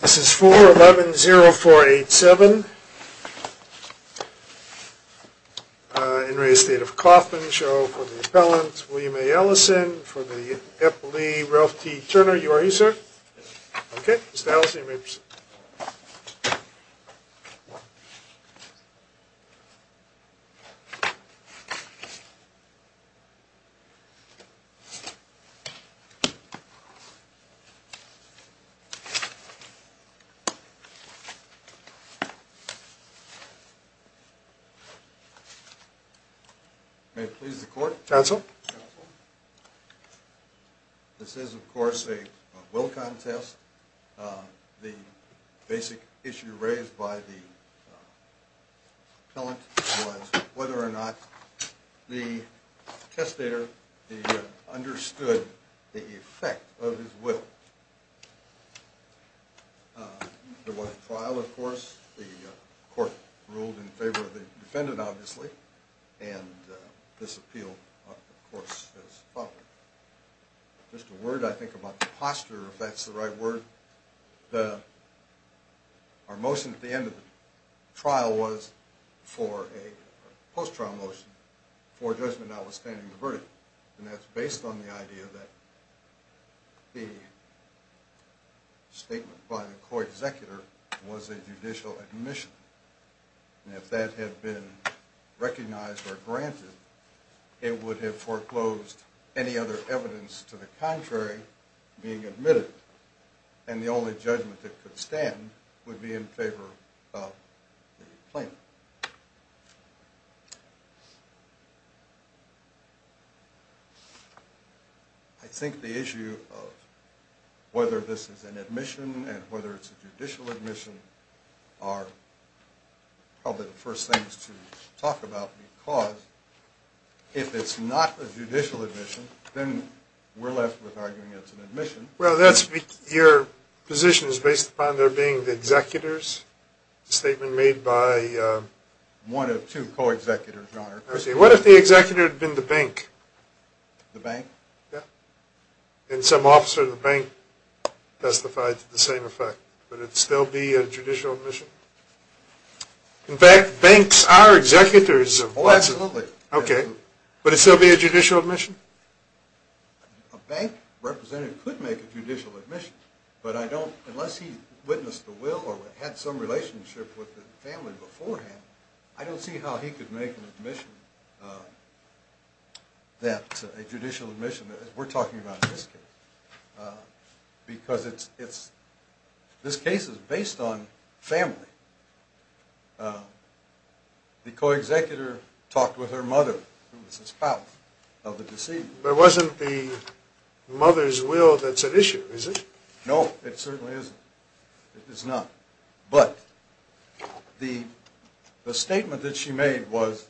This is 4-11-0-4-8-7. In re Estate of Kaufman show for the appellant William A. Ellison for the Epley Ralph T. Turner. You are here sir? Okay. Mr. Ellison you may proceed. May it please the court. Counsel. This is of course a will contest. The basic issue raised by the appellant was whether or not the testator understood the effect of his will. There was a trial of course. The court ruled in favor of the defendant obviously. And this appeal of course is followed. Just a word I think about the posture if that's the right word. Our motion at the end of the trial was for a post-trial motion for judgment notwithstanding the verdict. And that's based on the idea that the statement by the court executor was a judicial admission. And if that had been recognized or granted it would have foreclosed any other evidence to the contrary being admitted. And the only judgment that could stand would be in favor of the plaintiff. I think the issue of whether this is an admission and whether it's a judicial admission are probably the first things to talk about. Because if it's not a judicial admission then we're left with arguing it's an admission. Well that's your position is based upon there being the executors. The statement made by one of two co-executors. What if the executor had been the bank? The bank? Yeah. And some officer at the bank testified to the same effect. Would it still be a judicial admission? In fact banks are executors. Oh absolutely. Okay. Would it still be a judicial admission? A bank representative could make a judicial admission. But I don't, unless he witnessed the will or had some relationship with the family beforehand, I don't see how he could make an admission that, a judicial admission that we're talking about in this case. Because it's, this case is based on family. The co-executor talked with her mother who was the spouse of the decedent. But it wasn't the mother's will that's at issue, is it? No, it certainly isn't. It is not. But the statement that she made was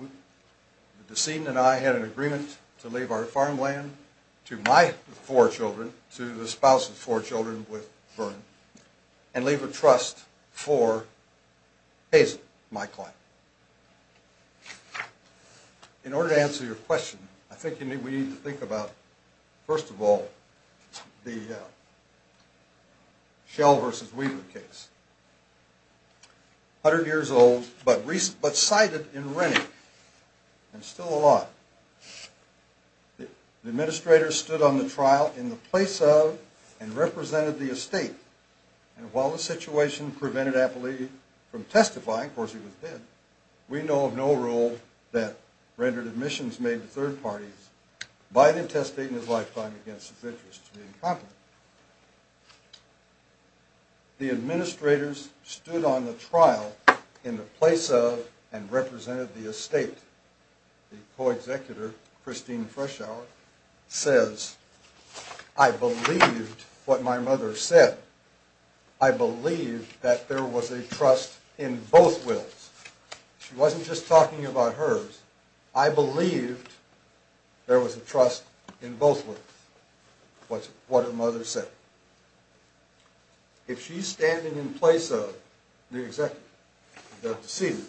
the decedent and I had an agreement to leave our farmland to my four children, to the spouse of four children with Vern, and leave a trust for Hazel, my client. In order to answer your question, I think we need to think about, first of all, the Shell versus Weaver case. A hundred years old, but cited in Rennie, and still alive. The administrator stood on the trial in the place of and represented the estate. And while the situation prevented Appley from testifying, of course he was dead, we know of no rule that rendered admissions made to third parties, Biden testifying in his lifetime against his interest to be in Congress. The administrators stood on the trial in the place of and represented the estate. The co-executor, Christine Freshour, says, I believed what my mother said. I believed that there was a trust in both wills. She wasn't just talking about hers. I believed there was a trust in both wills, what her mother said. If she's standing in place of the executor, the decedent,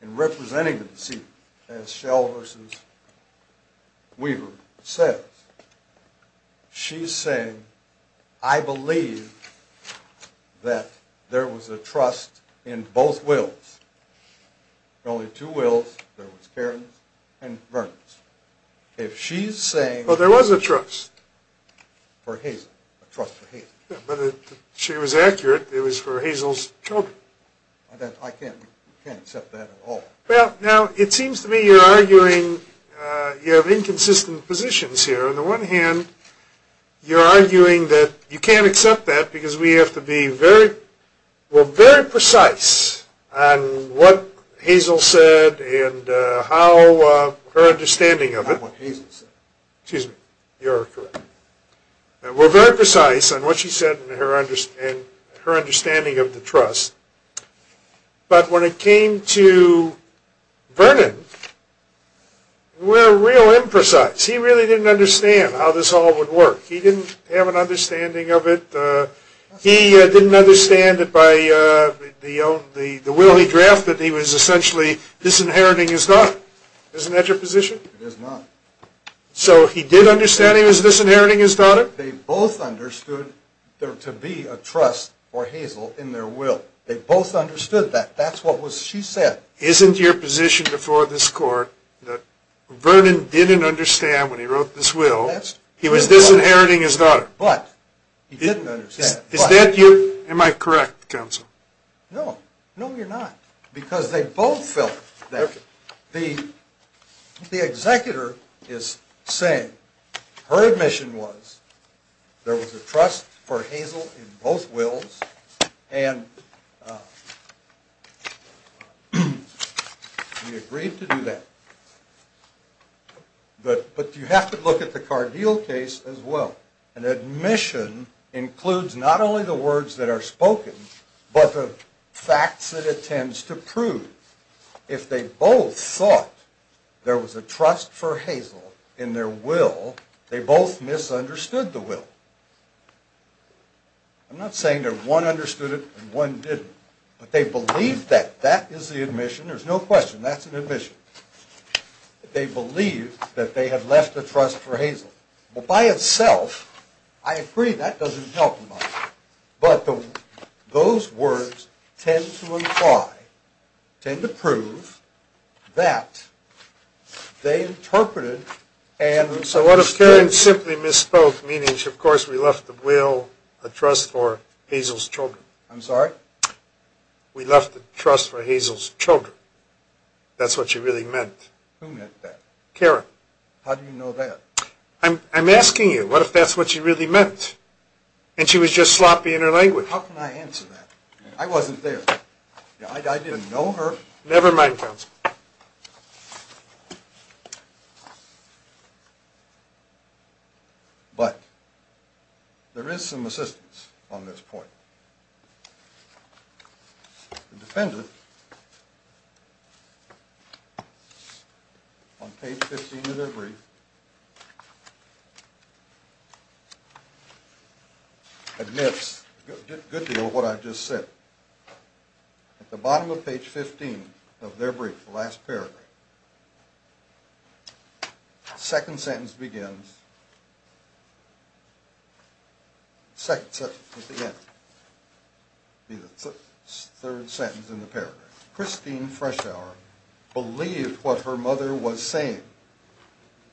and representing the decedent, as Shell versus Weaver says, she's saying, I believe that there was a trust in both wills. There were only two wills, there was Karen's and Vern's. If she's saying... Well, there was a trust. For Hazel, a trust for Hazel. But she was accurate, it was for Hazel's children. I can't accept that at all. Well, now, it seems to me you're arguing, you have inconsistent positions here. On the one hand, you're arguing that you can't accept that because we have to be very, very precise on what Hazel said and how her understanding of it. Not what Hazel said. Excuse me. You're correct. We're very precise on what she said and her understanding of the trust. But when it came to Vernon, we're real imprecise. He really didn't understand how this all would work. He didn't have an understanding of it. He didn't understand it by the will he drafted. He was essentially disinheriting his daughter. Isn't that your position? It is not. So he did understand he was disinheriting his daughter? They both understood there to be a trust for Hazel in their will. They both understood that. That's what she said. Isn't your position before this court that Vernon didn't understand when he wrote this will? He was disinheriting his daughter. But he didn't understand it. Am I correct, counsel? No. No, you're not. Because they both felt that. The executor is saying her admission was there was a trust for Hazel in both wills. And we agreed to do that. But you have to look at the Cargill case as well. An admission includes not only the words that are spoken, but the facts that it tends to prove. If they both thought there was a trust for Hazel in their will, they both misunderstood the will. I'm not saying that one understood it and one didn't. But they believed that. That is the admission. There's no question. That's an admission. They believed that they had left a trust for Hazel. Well, by itself, I agree that doesn't help much. But those words tend to imply, tend to prove, that they interpreted and misunderstood. So what if Karen simply misspoke, meaning, of course, we left the will, a trust for Hazel's children? I'm sorry? We left the trust for Hazel's children. That's what she really meant. Who meant that? Karen. How do you know that? I'm asking you, what if that's what she really meant? And she was just sloppy in her language. How can I answer that? I wasn't there. I didn't know her. Never mind, counsel. But there is some assistance on this point. The defendant, on page 15 of their brief, admits a good deal of what I've just said. At the bottom of page 15 of their brief, the last paragraph, the second sentence begins. The second sentence begins. It would be the third sentence in the paragraph. Christine Frechdauer believed what her mother was saying.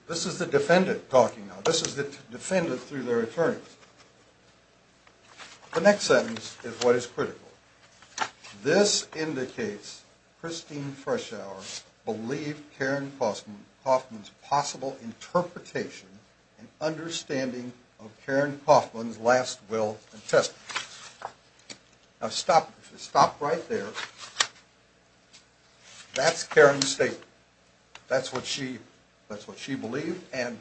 This is the defendant talking now. This is the defendant through their attorneys. The next sentence is what is critical. This indicates Christine Frechdauer believed Karen Kaufman's possible interpretation and understanding of Karen Kaufman's last will and testimony. Now, stop right there. That's Karen's statement. That's what she believed. And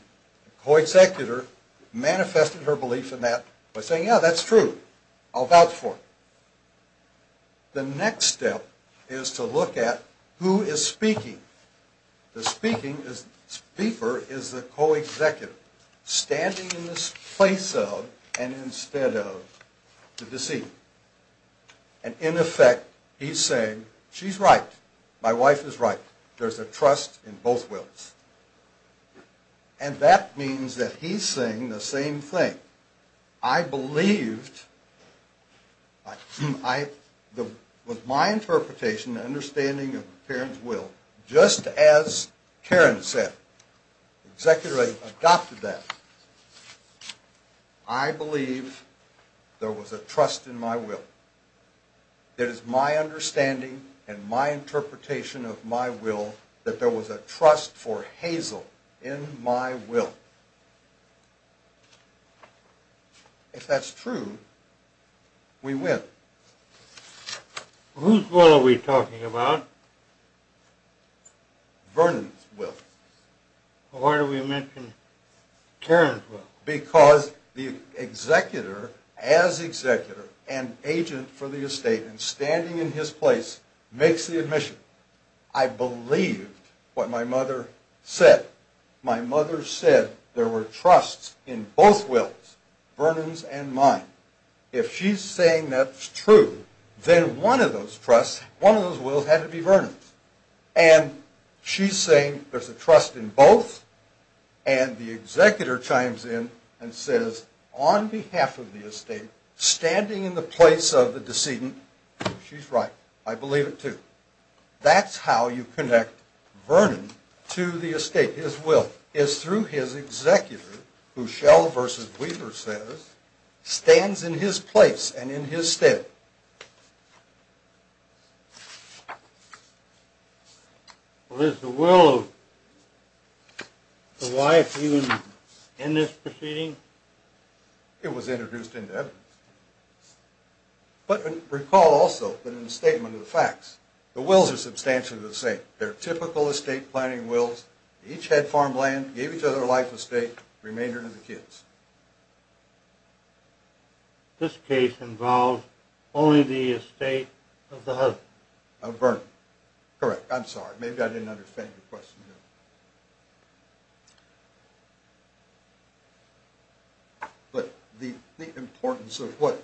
the co-executor manifested her belief in that by saying, yeah, that's true. I'll vouch for it. The next step is to look at who is speaking. The speaker is the co-executor, standing in the place of and instead of the deceiver. And, in effect, he's saying, she's right. My wife is right. There's a trust in both wills. And that means that he's saying the same thing. I believed with my interpretation and understanding of Karen's will, just as Karen said. The executor adopted that. I believe there was a trust in my will. It is my understanding and my interpretation of my will that there was a trust for Hazel in my will. If that's true, we win. Whose will are we talking about? Vernon's will. Why do we mention Karen's will? Because the executor, as executor and agent for the estate and standing in his place, makes the admission. I believed what my mother said. My mother said there were trusts in both wills, Vernon's and mine. If she's saying that's true, then one of those trusts, one of those wills had to be Vernon's. And she's saying there's a trust in both, and the executor chimes in and says, on behalf of the estate, standing in the place of the decedent, she's right, I believe it too. That's how you connect Vernon to the estate. His will is through his executor, who Shell v. Weaver says stands in his place and in his stead. Is the will of the wife even in this proceeding? It was introduced into evidence. But recall also that in the statement of the facts, the wills are substantially the same. They're typical estate planning wills. Each had farmland, gave each other life estate, remainder to the kids. This case involved only the estate of the husband? Of Vernon. Correct. I'm sorry. Maybe I didn't understand your question. But the importance of what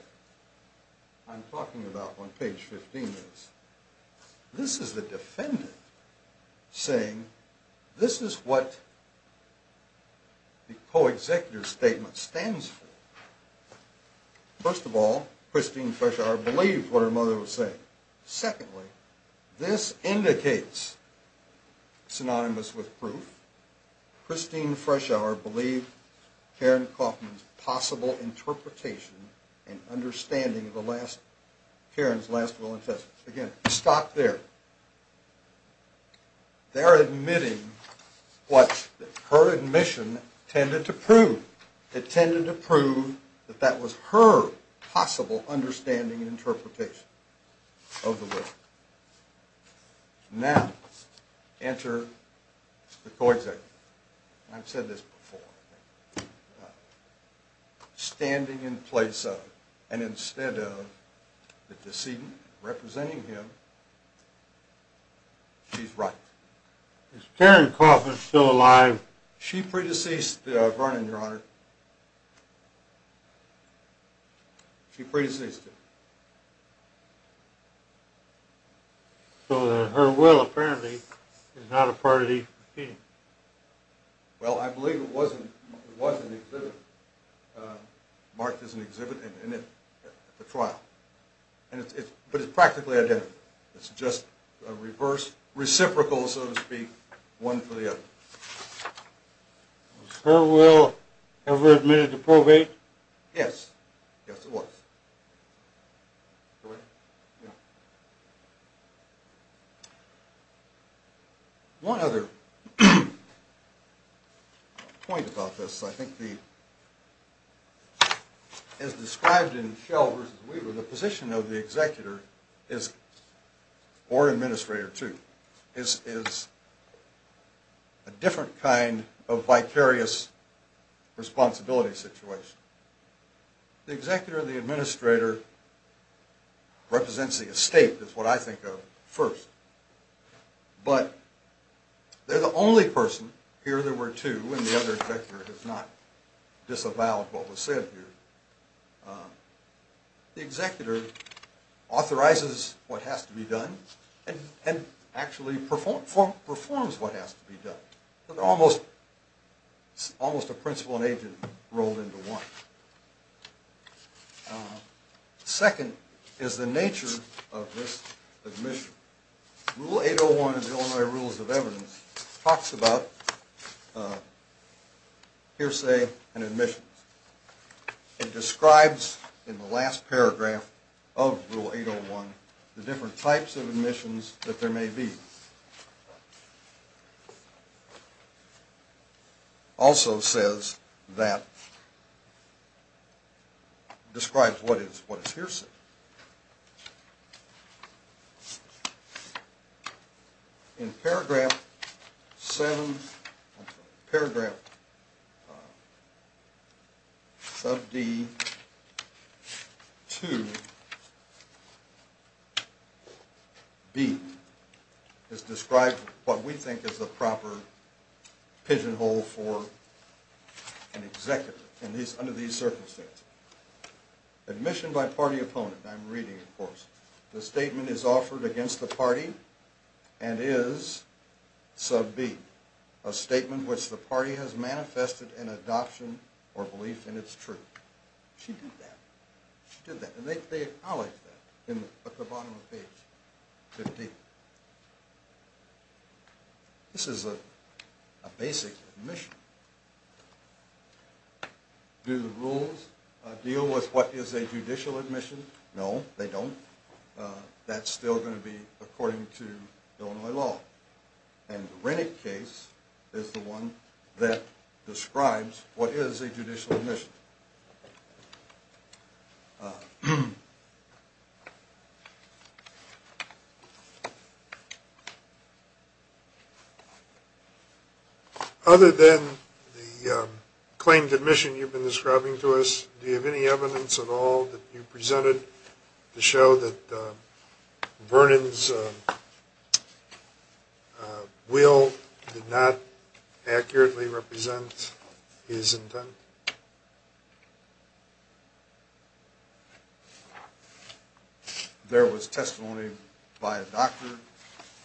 I'm talking about on page 15 is, this is the defendant saying, this is what the co-executor's statement stands for. First of all, Christine Feshauer believed what her mother was saying. Secondly, this indicates, synonymous with proof, Christine Feshauer believed Karen Kaufman's possible interpretation and understanding of Karen's last will and testament. Again, stop there. They're admitting what her admission tended to prove. It tended to prove that that was her possible understanding and interpretation of the will. Now, enter the co-executor. I've said this before. Standing in place of and instead of the decedent representing him, she's right. Is Karen Kaufman still alive? She pre-deceased Vernon, Your Honor. She pre-deceased him. So her will, apparently, is not a part of these proceedings. Well, I believe it was an exhibit. Marked as an exhibit at the trial. But it's practically identical. It's just a reciprocal, so to speak, one for the other. Was her will ever admitted to probate? Yes. Yes, it was. Go ahead. One other point about this. I think the, as described in Shell v. Weaver, the position of the executor is, or administrator too, is a different kind of vicarious responsibility situation. The executor and the administrator represents the estate, is what I think of first. But they're the only person, here there were two and the other executor has not disavowed what was said here. The executor authorizes what has to be done and actually performs what has to be done. So they're almost a principal and agent rolled into one. Second is the nature of this admission. Rule 801 of the Illinois Rules of Evidence talks about hearsay and admission. It describes in the last paragraph of Rule 801 the different types of admissions that there may be. Also says that, describes what is hearsay. In paragraph 7, I'm sorry, paragraph sub D, 2, B is described what we think is the proper pigeon hole for an executor under these circumstances. Admission by party opponent, I'm reading of course. The statement is offered against the party and is, sub B, a statement which the party has manifested an adoption or belief in its truth. She did that. She did that and they acknowledge that at the bottom of page 15. This is a basic admission. Do the rules deal with what is a judicial admission? No, they don't. That's still going to be according to Illinois law. And the Rennick case is the one that describes what is a judicial admission. Other than the claimed admission you've been describing to us, do you have any evidence at all that you presented to show that Vernon's will did not accurately represent his intent? There was testimony by a doctor,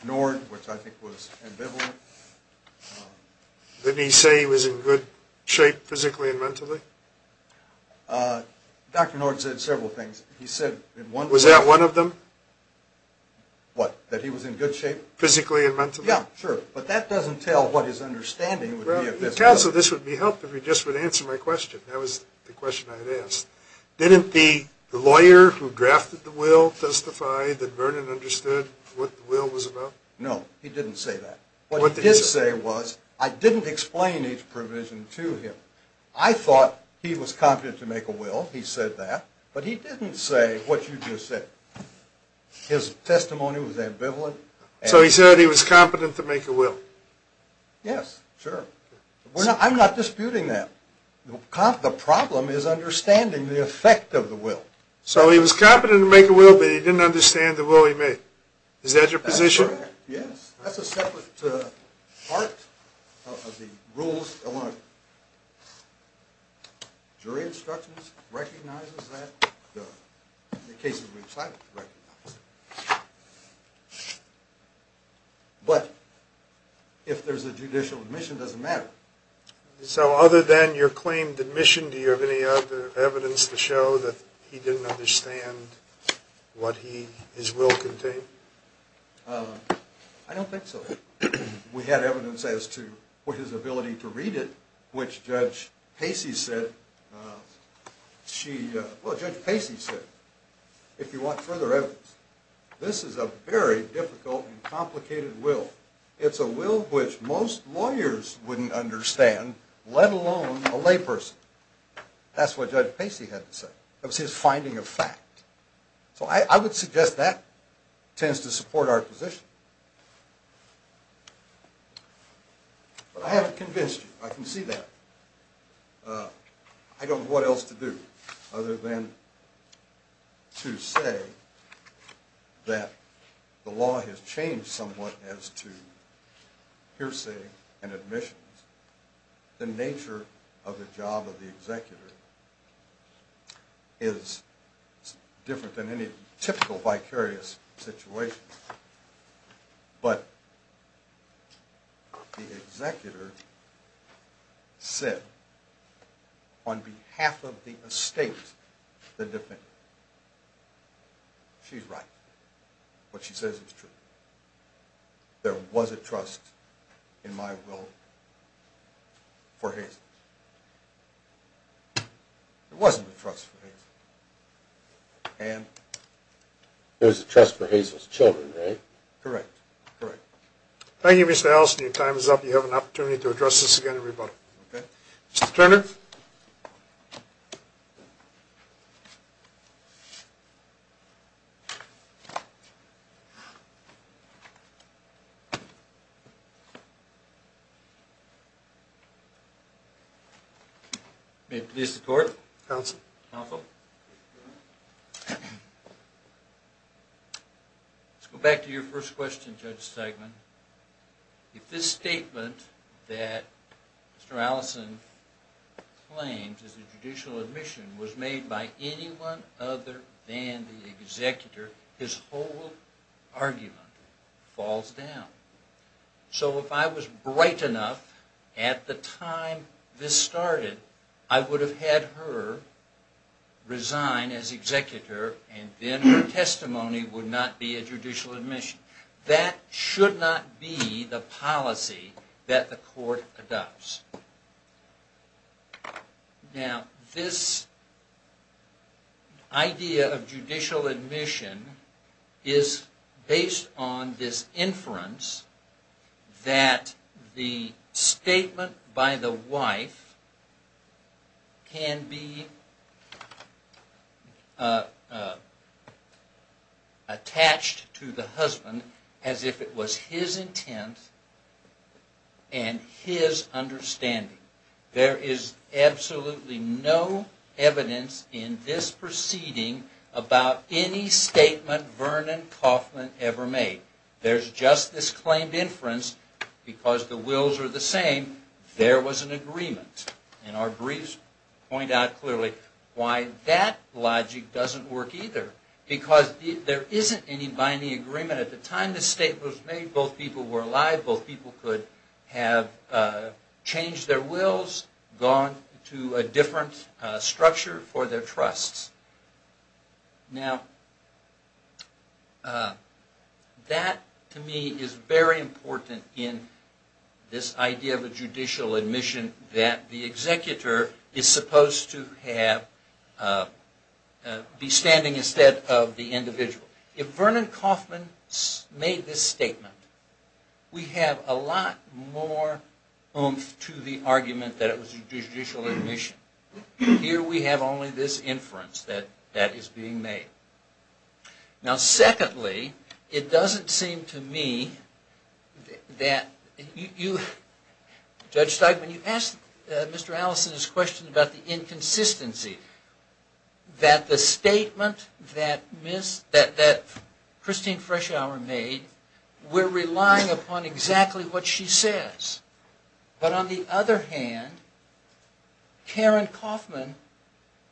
Nord, which I think was ambivalent. Didn't he say he was in good shape physically and mentally? Dr. Nord said several things. Was that one of them? What? That he was in good shape? Physically and mentally. Yeah, sure. But that doesn't tell what his understanding would be of this. Counsel, this would be helpful if you just would answer my question. That was the question I had asked. Didn't the lawyer who drafted the will testify that Vernon understood what the will was about? No, he didn't say that. What he did say was I didn't explain each provision to him. I thought he was competent to make a will. He said that. But he didn't say what you just said. His testimony was ambivalent. So he said he was competent to make a will? Yes, sure. I'm not disputing that. The problem is understanding the effect of the will. So he was competent to make a will, but he didn't understand the will he made. Is that your position? That's correct, yes. That's a separate part of the rules. Jury instructions recognizes that in the cases we've cited. But if there's a judicial admission, it doesn't matter. So other than your claimed admission, do you have any other evidence to show that he didn't understand what his will contained? I don't think so. We had evidence as to his ability to read it, which Judge Pacey said. Judge Pacey said, if you want further evidence, this is a very difficult and complicated will. It's a will which most lawyers wouldn't understand, let alone a layperson. That's what Judge Pacey had to say. It was his finding of fact. So I would suggest that tends to support our position. But I haven't convinced you. I can see that. I don't know what else to do other than to say that the law has changed somewhat as to hearsay and admissions. The nature of the job of the executor is different than any typical vicarious situation. But the executor said, on behalf of the estate, the defendant, she's right. What she says is true. There was a trust in my will for Hazel. And? There was a trust for Hazel's children, right? Correct. Thank you, Mr. Allison. Your time is up. You have an opportunity to address this again to rebuttal. Mr. Turner? May it please the Court. Counsel. Counsel. Let's go back to your first question, Judge Stegman. If this statement that Mr. Allison claims is a judicial admission was made by anyone other than the executor, his whole argument falls down. So if I was bright enough at the time this started, I would have had her resign as executor and then her testimony would not be a judicial admission. That should not be the policy that the Court adopts. Now, this idea of judicial admission is based on this inference that the statement by the wife can be attached to the husband as if it was his intent and his understanding. There is absolutely no evidence in this proceeding about any statement Vernon Kaufman ever made. There's just this claimed inference because the wills are the same, there was an agreement. And our briefs point out clearly why that logic doesn't work either, because there isn't any binding agreement. At the time this statement was made, both people were alive, both people could have changed their wills, gone to a different structure for their trusts. Now, that to me is very important in this idea of a judicial admission that the executor is supposed to be standing instead of the individual. If Vernon Kaufman made this statement, we have a lot more oomph to the argument that it was judicial admission. Here we have only this inference that is being made. Now, secondly, it doesn't seem to me that you, Judge Steigman, you asked Mr. Allison's question about the inconsistency, that the statement that Christine Freshour made, we're relying upon exactly what she says. But on the other hand, Karen Kaufman,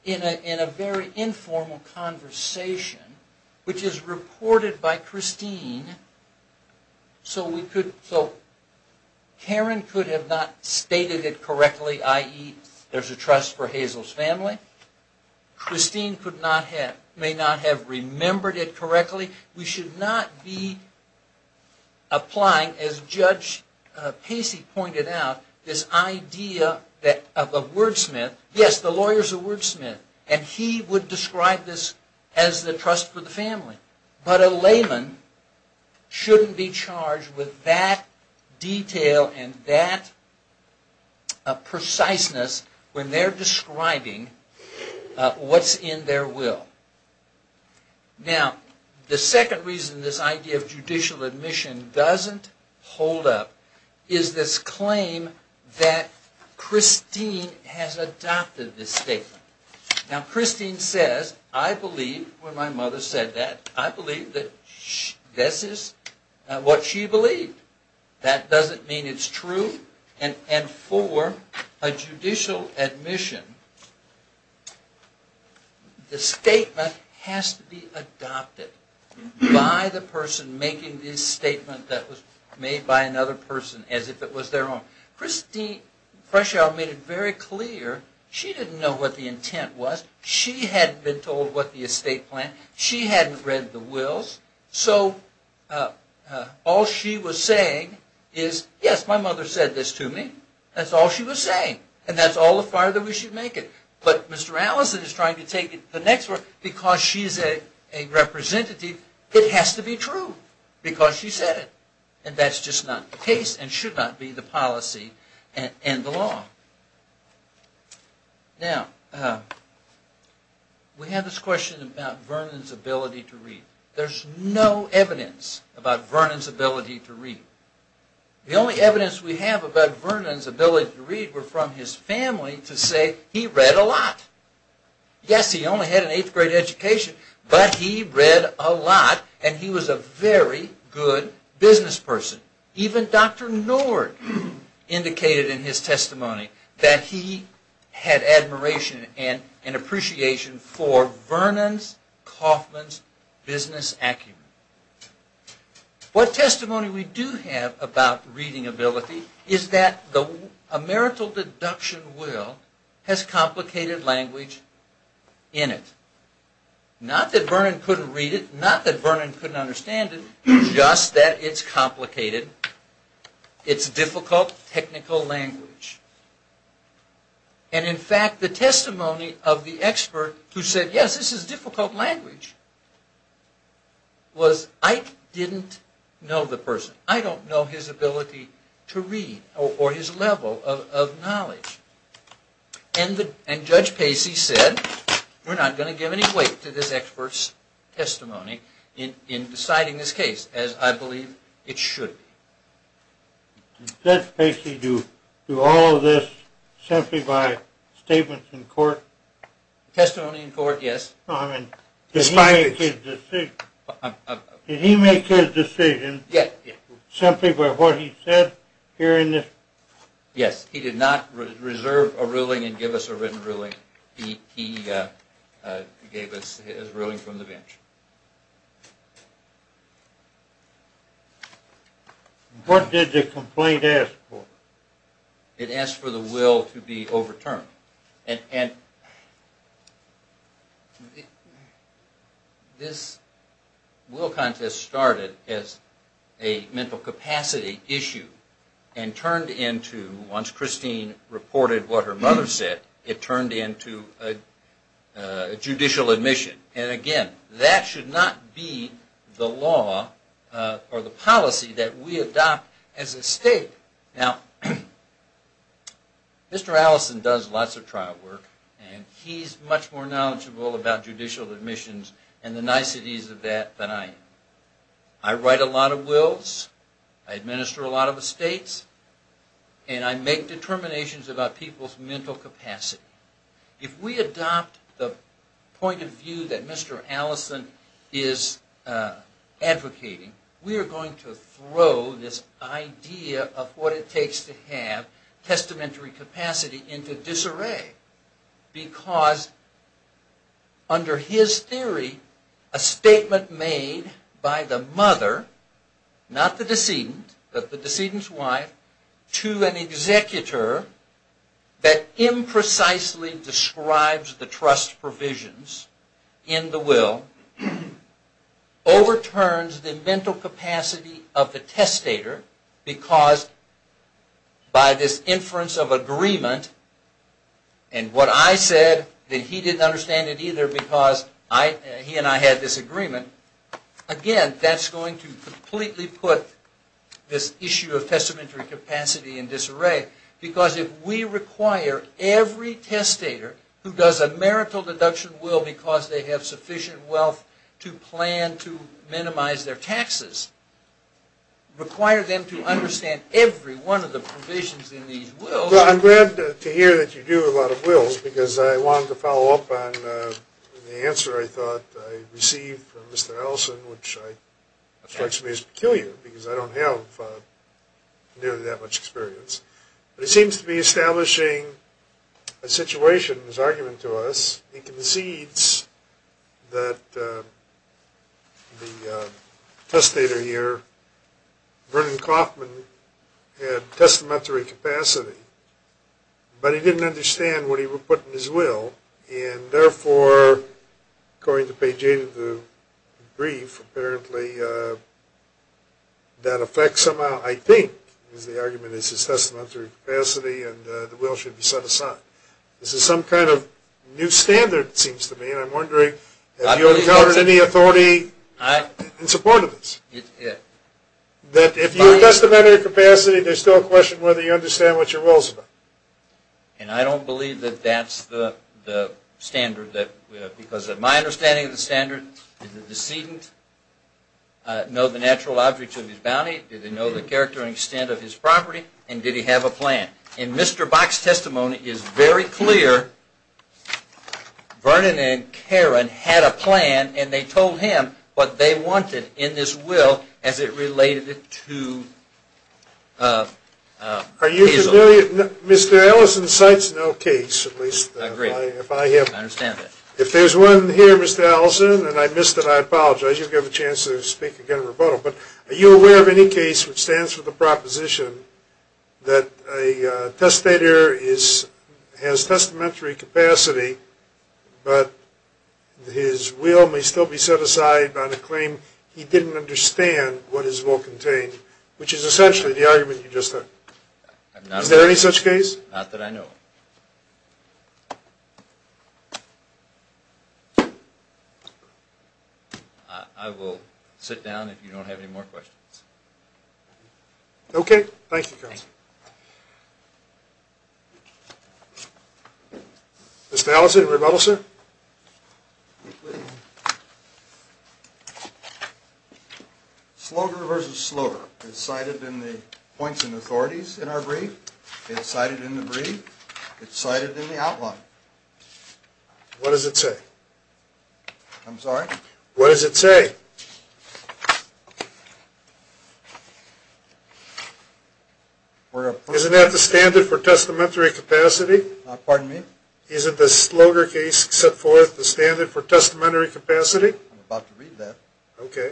in a very informal conversation, which is reported by Christine, so Karen could have not stated it correctly, i.e., there's a trust for Hazel's family, Christine may not have remembered it correctly, we should not be applying, as Judge Pacey pointed out, this idea of a wordsmith, yes, the lawyer's a wordsmith, and he would describe this as the trust for the family. But a layman shouldn't be charged with that detail and that preciseness when they're describing what's in their will. Now, the second reason this idea of judicial admission doesn't hold up is this claim that Christine has adopted this statement. Now, Christine says, I believe, when my mother said that, I believe that this is what she believed. That doesn't mean it's true. And for a judicial admission, the statement has to be adopted by the person making this statement that was made by another person, as if it was their own. Christine Freschow made it very clear she didn't know what the intent was, she hadn't been told what the estate plan, she hadn't read the wills, so all she was saying is, yes, my mother said this to me, that's all she was saying, and that's all the farther we should make it. But Mr. Allison is trying to take it to the next level, because she's a representative, it has to be true, because she said it. And that's just not the case and should not be the policy and the law. Now, we have this question about Vernon's ability to read. There's no evidence about Vernon's ability to read. The only evidence we have about Vernon's ability to read were from his family to say he read a lot. Yes, he only had an eighth grade education, but he read a lot and he was a very good business person. Even Dr. Nord indicated in his testimony that he had admiration and appreciation for Vernon Kaufman's business acumen. What testimony we do have about reading ability is that a marital deduction will has complicated language in it. Not that Vernon couldn't read it, not that Vernon couldn't understand it, just that it's complicated. It's difficult technical language. And in fact, the testimony of the expert who said, yes, this is difficult language, was I didn't know the person. I don't know his ability to read or his level of knowledge. And Judge Pacey said, we're not going to give any weight to this expert's testimony in deciding this case, as I believe it should be. Did Judge Pacey do all of this simply by statements in court? Testimony in court, yes. Did he make his decision simply by what he said here in this? Yes, he did not reserve a ruling and give us a written ruling. He gave us his ruling from the bench. What did the complaint ask for? It asked for the will to be overturned. And this will contest started as a mental capacity issue and turned into, once Christine reported what her mother said, it turned into a judicial admission. And again, that should not be the law or the policy that we adopt as a state. Now, Mr. Allison does lots of trial work, and he's much more knowledgeable about judicial admissions and the niceties of that than I am. I write a lot of wills. I administer a lot of estates. And I make determinations about people's mental capacity. If we adopt the point of view that Mr. Allison is advocating, we are going to throw this idea of what it takes to have testamentary capacity into disarray. Because under his theory, a statement made by the mother, not the decedent, but the decedent's wife, to an executor that imprecisely describes the trust provisions in the will overturns the mental capacity of the testator. Because by this inference of agreement, and what I said that he didn't understand it either because he and I had this agreement, again, that's going to completely put this issue of testamentary capacity in disarray. Because if we require every testator who does a marital deduction will because they have sufficient wealth to plan to minimize their taxes, require them to understand every one of the provisions in these wills. Well, I'm glad to hear that you do a lot of wills because I wanted to follow up on the answer I thought I received from Mr. Allison, which strikes me as peculiar because I don't have nearly that much experience. But he seems to be establishing a situation in his argument to us. He concedes that the testator here, Vernon Kaufman, had testamentary capacity, but he didn't understand what he would put in his will. And therefore, according to page 8 of the brief, apparently that affects somehow, I think, is the argument is his testamentary capacity and the will should be set aside. This is some kind of new standard, it seems to me, and I'm wondering have you encountered any authority in support of this? That if you have testamentary capacity, there's still a question whether you understand what your will is about. And I don't believe that that's the standard because in my understanding of the standard, did the decedent know the natural objects of his bounty? Did he know the character and extent of his property? And did he have a plan? And Mr. Bach's testimony is very clear. Vernon and Karen had a plan and they told him what they wanted in this will as it related to Peasel. Are you familiar? Mr. Allison cites no case. I agree. I understand that. If there's one here, Mr. Allison, and I missed it, I apologize. You'll get a chance to speak again in rebuttal. But are you aware of any case which stands for the proposition that a testator has testamentary capacity, but his will may still be set aside on a claim he didn't understand what his will contained, which is essentially the argument you just heard. Is there any such case? Not that I know of. I will sit down if you don't have any more questions. Okay. Thank you, counsel. Mr. Allison, rebuttal, sir. Slogar v. Slogar is cited in the points and authorities in our brief. It's cited in the brief. It's cited in the outline. What does it say? I'm sorry? What does it say? Isn't that the standard for testamentary capacity? Pardon me? Isn't the Slogar case set forth the standard for testamentary capacity? I'm about to read that. Okay.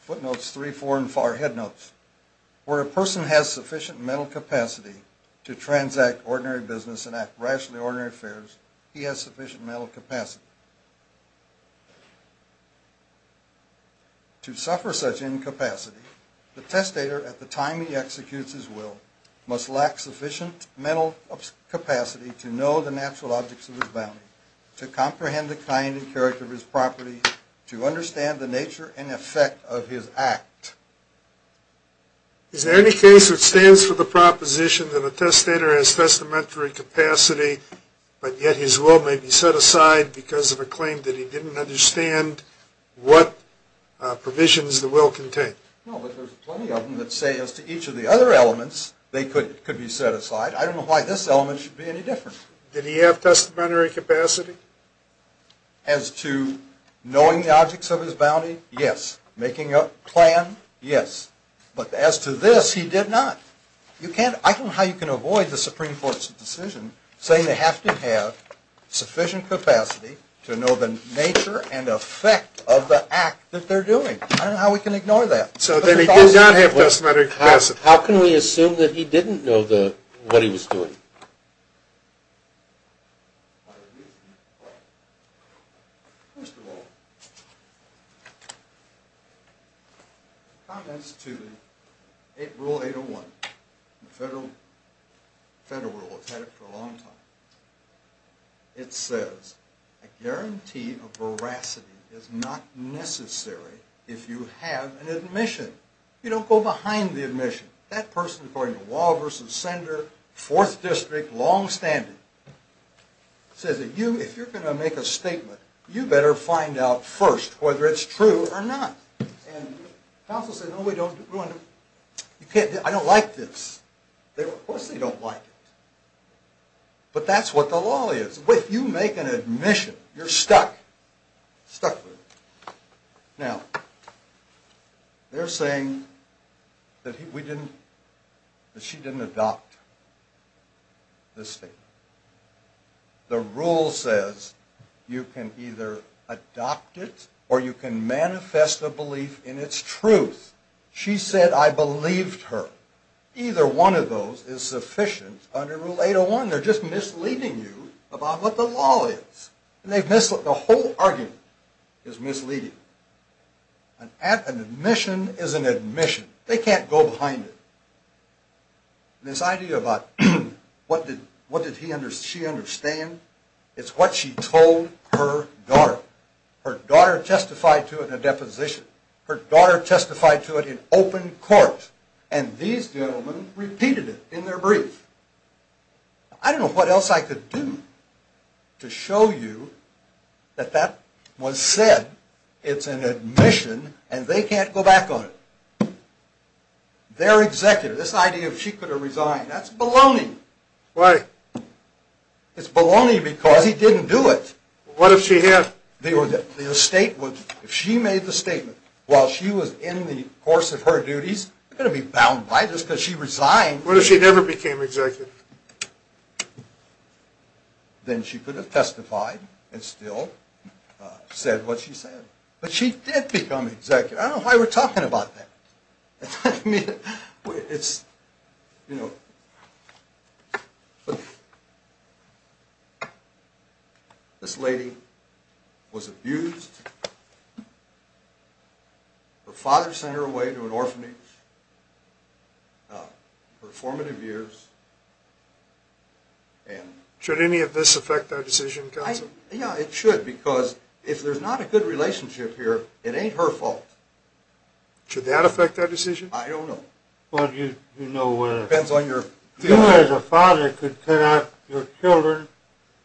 Footnotes 3, 4, and 5, head notes. Where a person has sufficient mental capacity to transact ordinary business and act rationally on ordinary affairs, he has sufficient mental capacity. To suffer such incapacity, the testator, at the time he executes his will, must lack sufficient mental capacity to know the natural objects of his bounty, to comprehend the kind and character of his property, to understand the nature and effect of his act. Is there any case that stands for the proposition that a testator has testamentary capacity, but yet his will may be set aside because of a claim that he didn't understand what provisions the will contained? No, but there's plenty of them that say as to each of the other elements, they could be set aside. I don't know why this element should be any different. Did he have testamentary capacity? As to knowing the objects of his bounty? Yes. Making a plan? Yes. But as to this, he did not. I don't know how you can avoid the Supreme Court's decision saying they have to have sufficient capacity to know the nature and effect of the act that they're doing. I don't know how we can ignore that. So then he did not have testamentary capacity. How can we assume that he didn't know what he was doing? First of all, comments to Rule 801, the federal rule. It's had it for a long time. It says, a guarantee of veracity is not necessary if you have an admission. You don't go behind the admission. That person, according to Law v. Sender, 4th District, longstanding, says if you're going to make a statement, you better find out first whether it's true or not. And counsel says, no, I don't like this. Of course they don't like it. But that's what the law is. If you make an admission, you're stuck. Now, they're saying that she didn't adopt this statement. The rule says you can either adopt it or you can manifest a belief in its truth. She said, I believed her. Either one of those is sufficient under Rule 801. They're just misleading you about what the law is. The whole argument is misleading. An admission is an admission. They can't go behind it. This idea about what did she understand, it's what she told her daughter. Her daughter testified to it in a deposition. Her daughter testified to it in open court. And these gentlemen repeated it in their brief. I don't know what else I could do to show you that that was said. It's an admission, and they can't go back on it. Their executive, this idea that she could have resigned, that's baloney. Why? It's baloney because he didn't do it. What if she had? If she made the statement while she was in the course of her duties, you're going to be bound by this because she resigned. What if she never became executive? Then she could have testified and still said what she said. But she did become executive. I don't know why we're talking about that. This lady was abused. Her father sent her away to an orphanage for formative years. Should any of this affect our decision, counsel? Yeah, it should because if there's not a good relationship here, it ain't her fault. Should that affect our decision? I don't know. It depends on your feelings. You as a father could cut out your children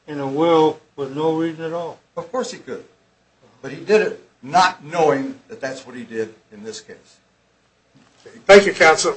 in a will for no reason at all. Of course he could. But he did it not knowing that that's what he did in this case. Thank you, counsel.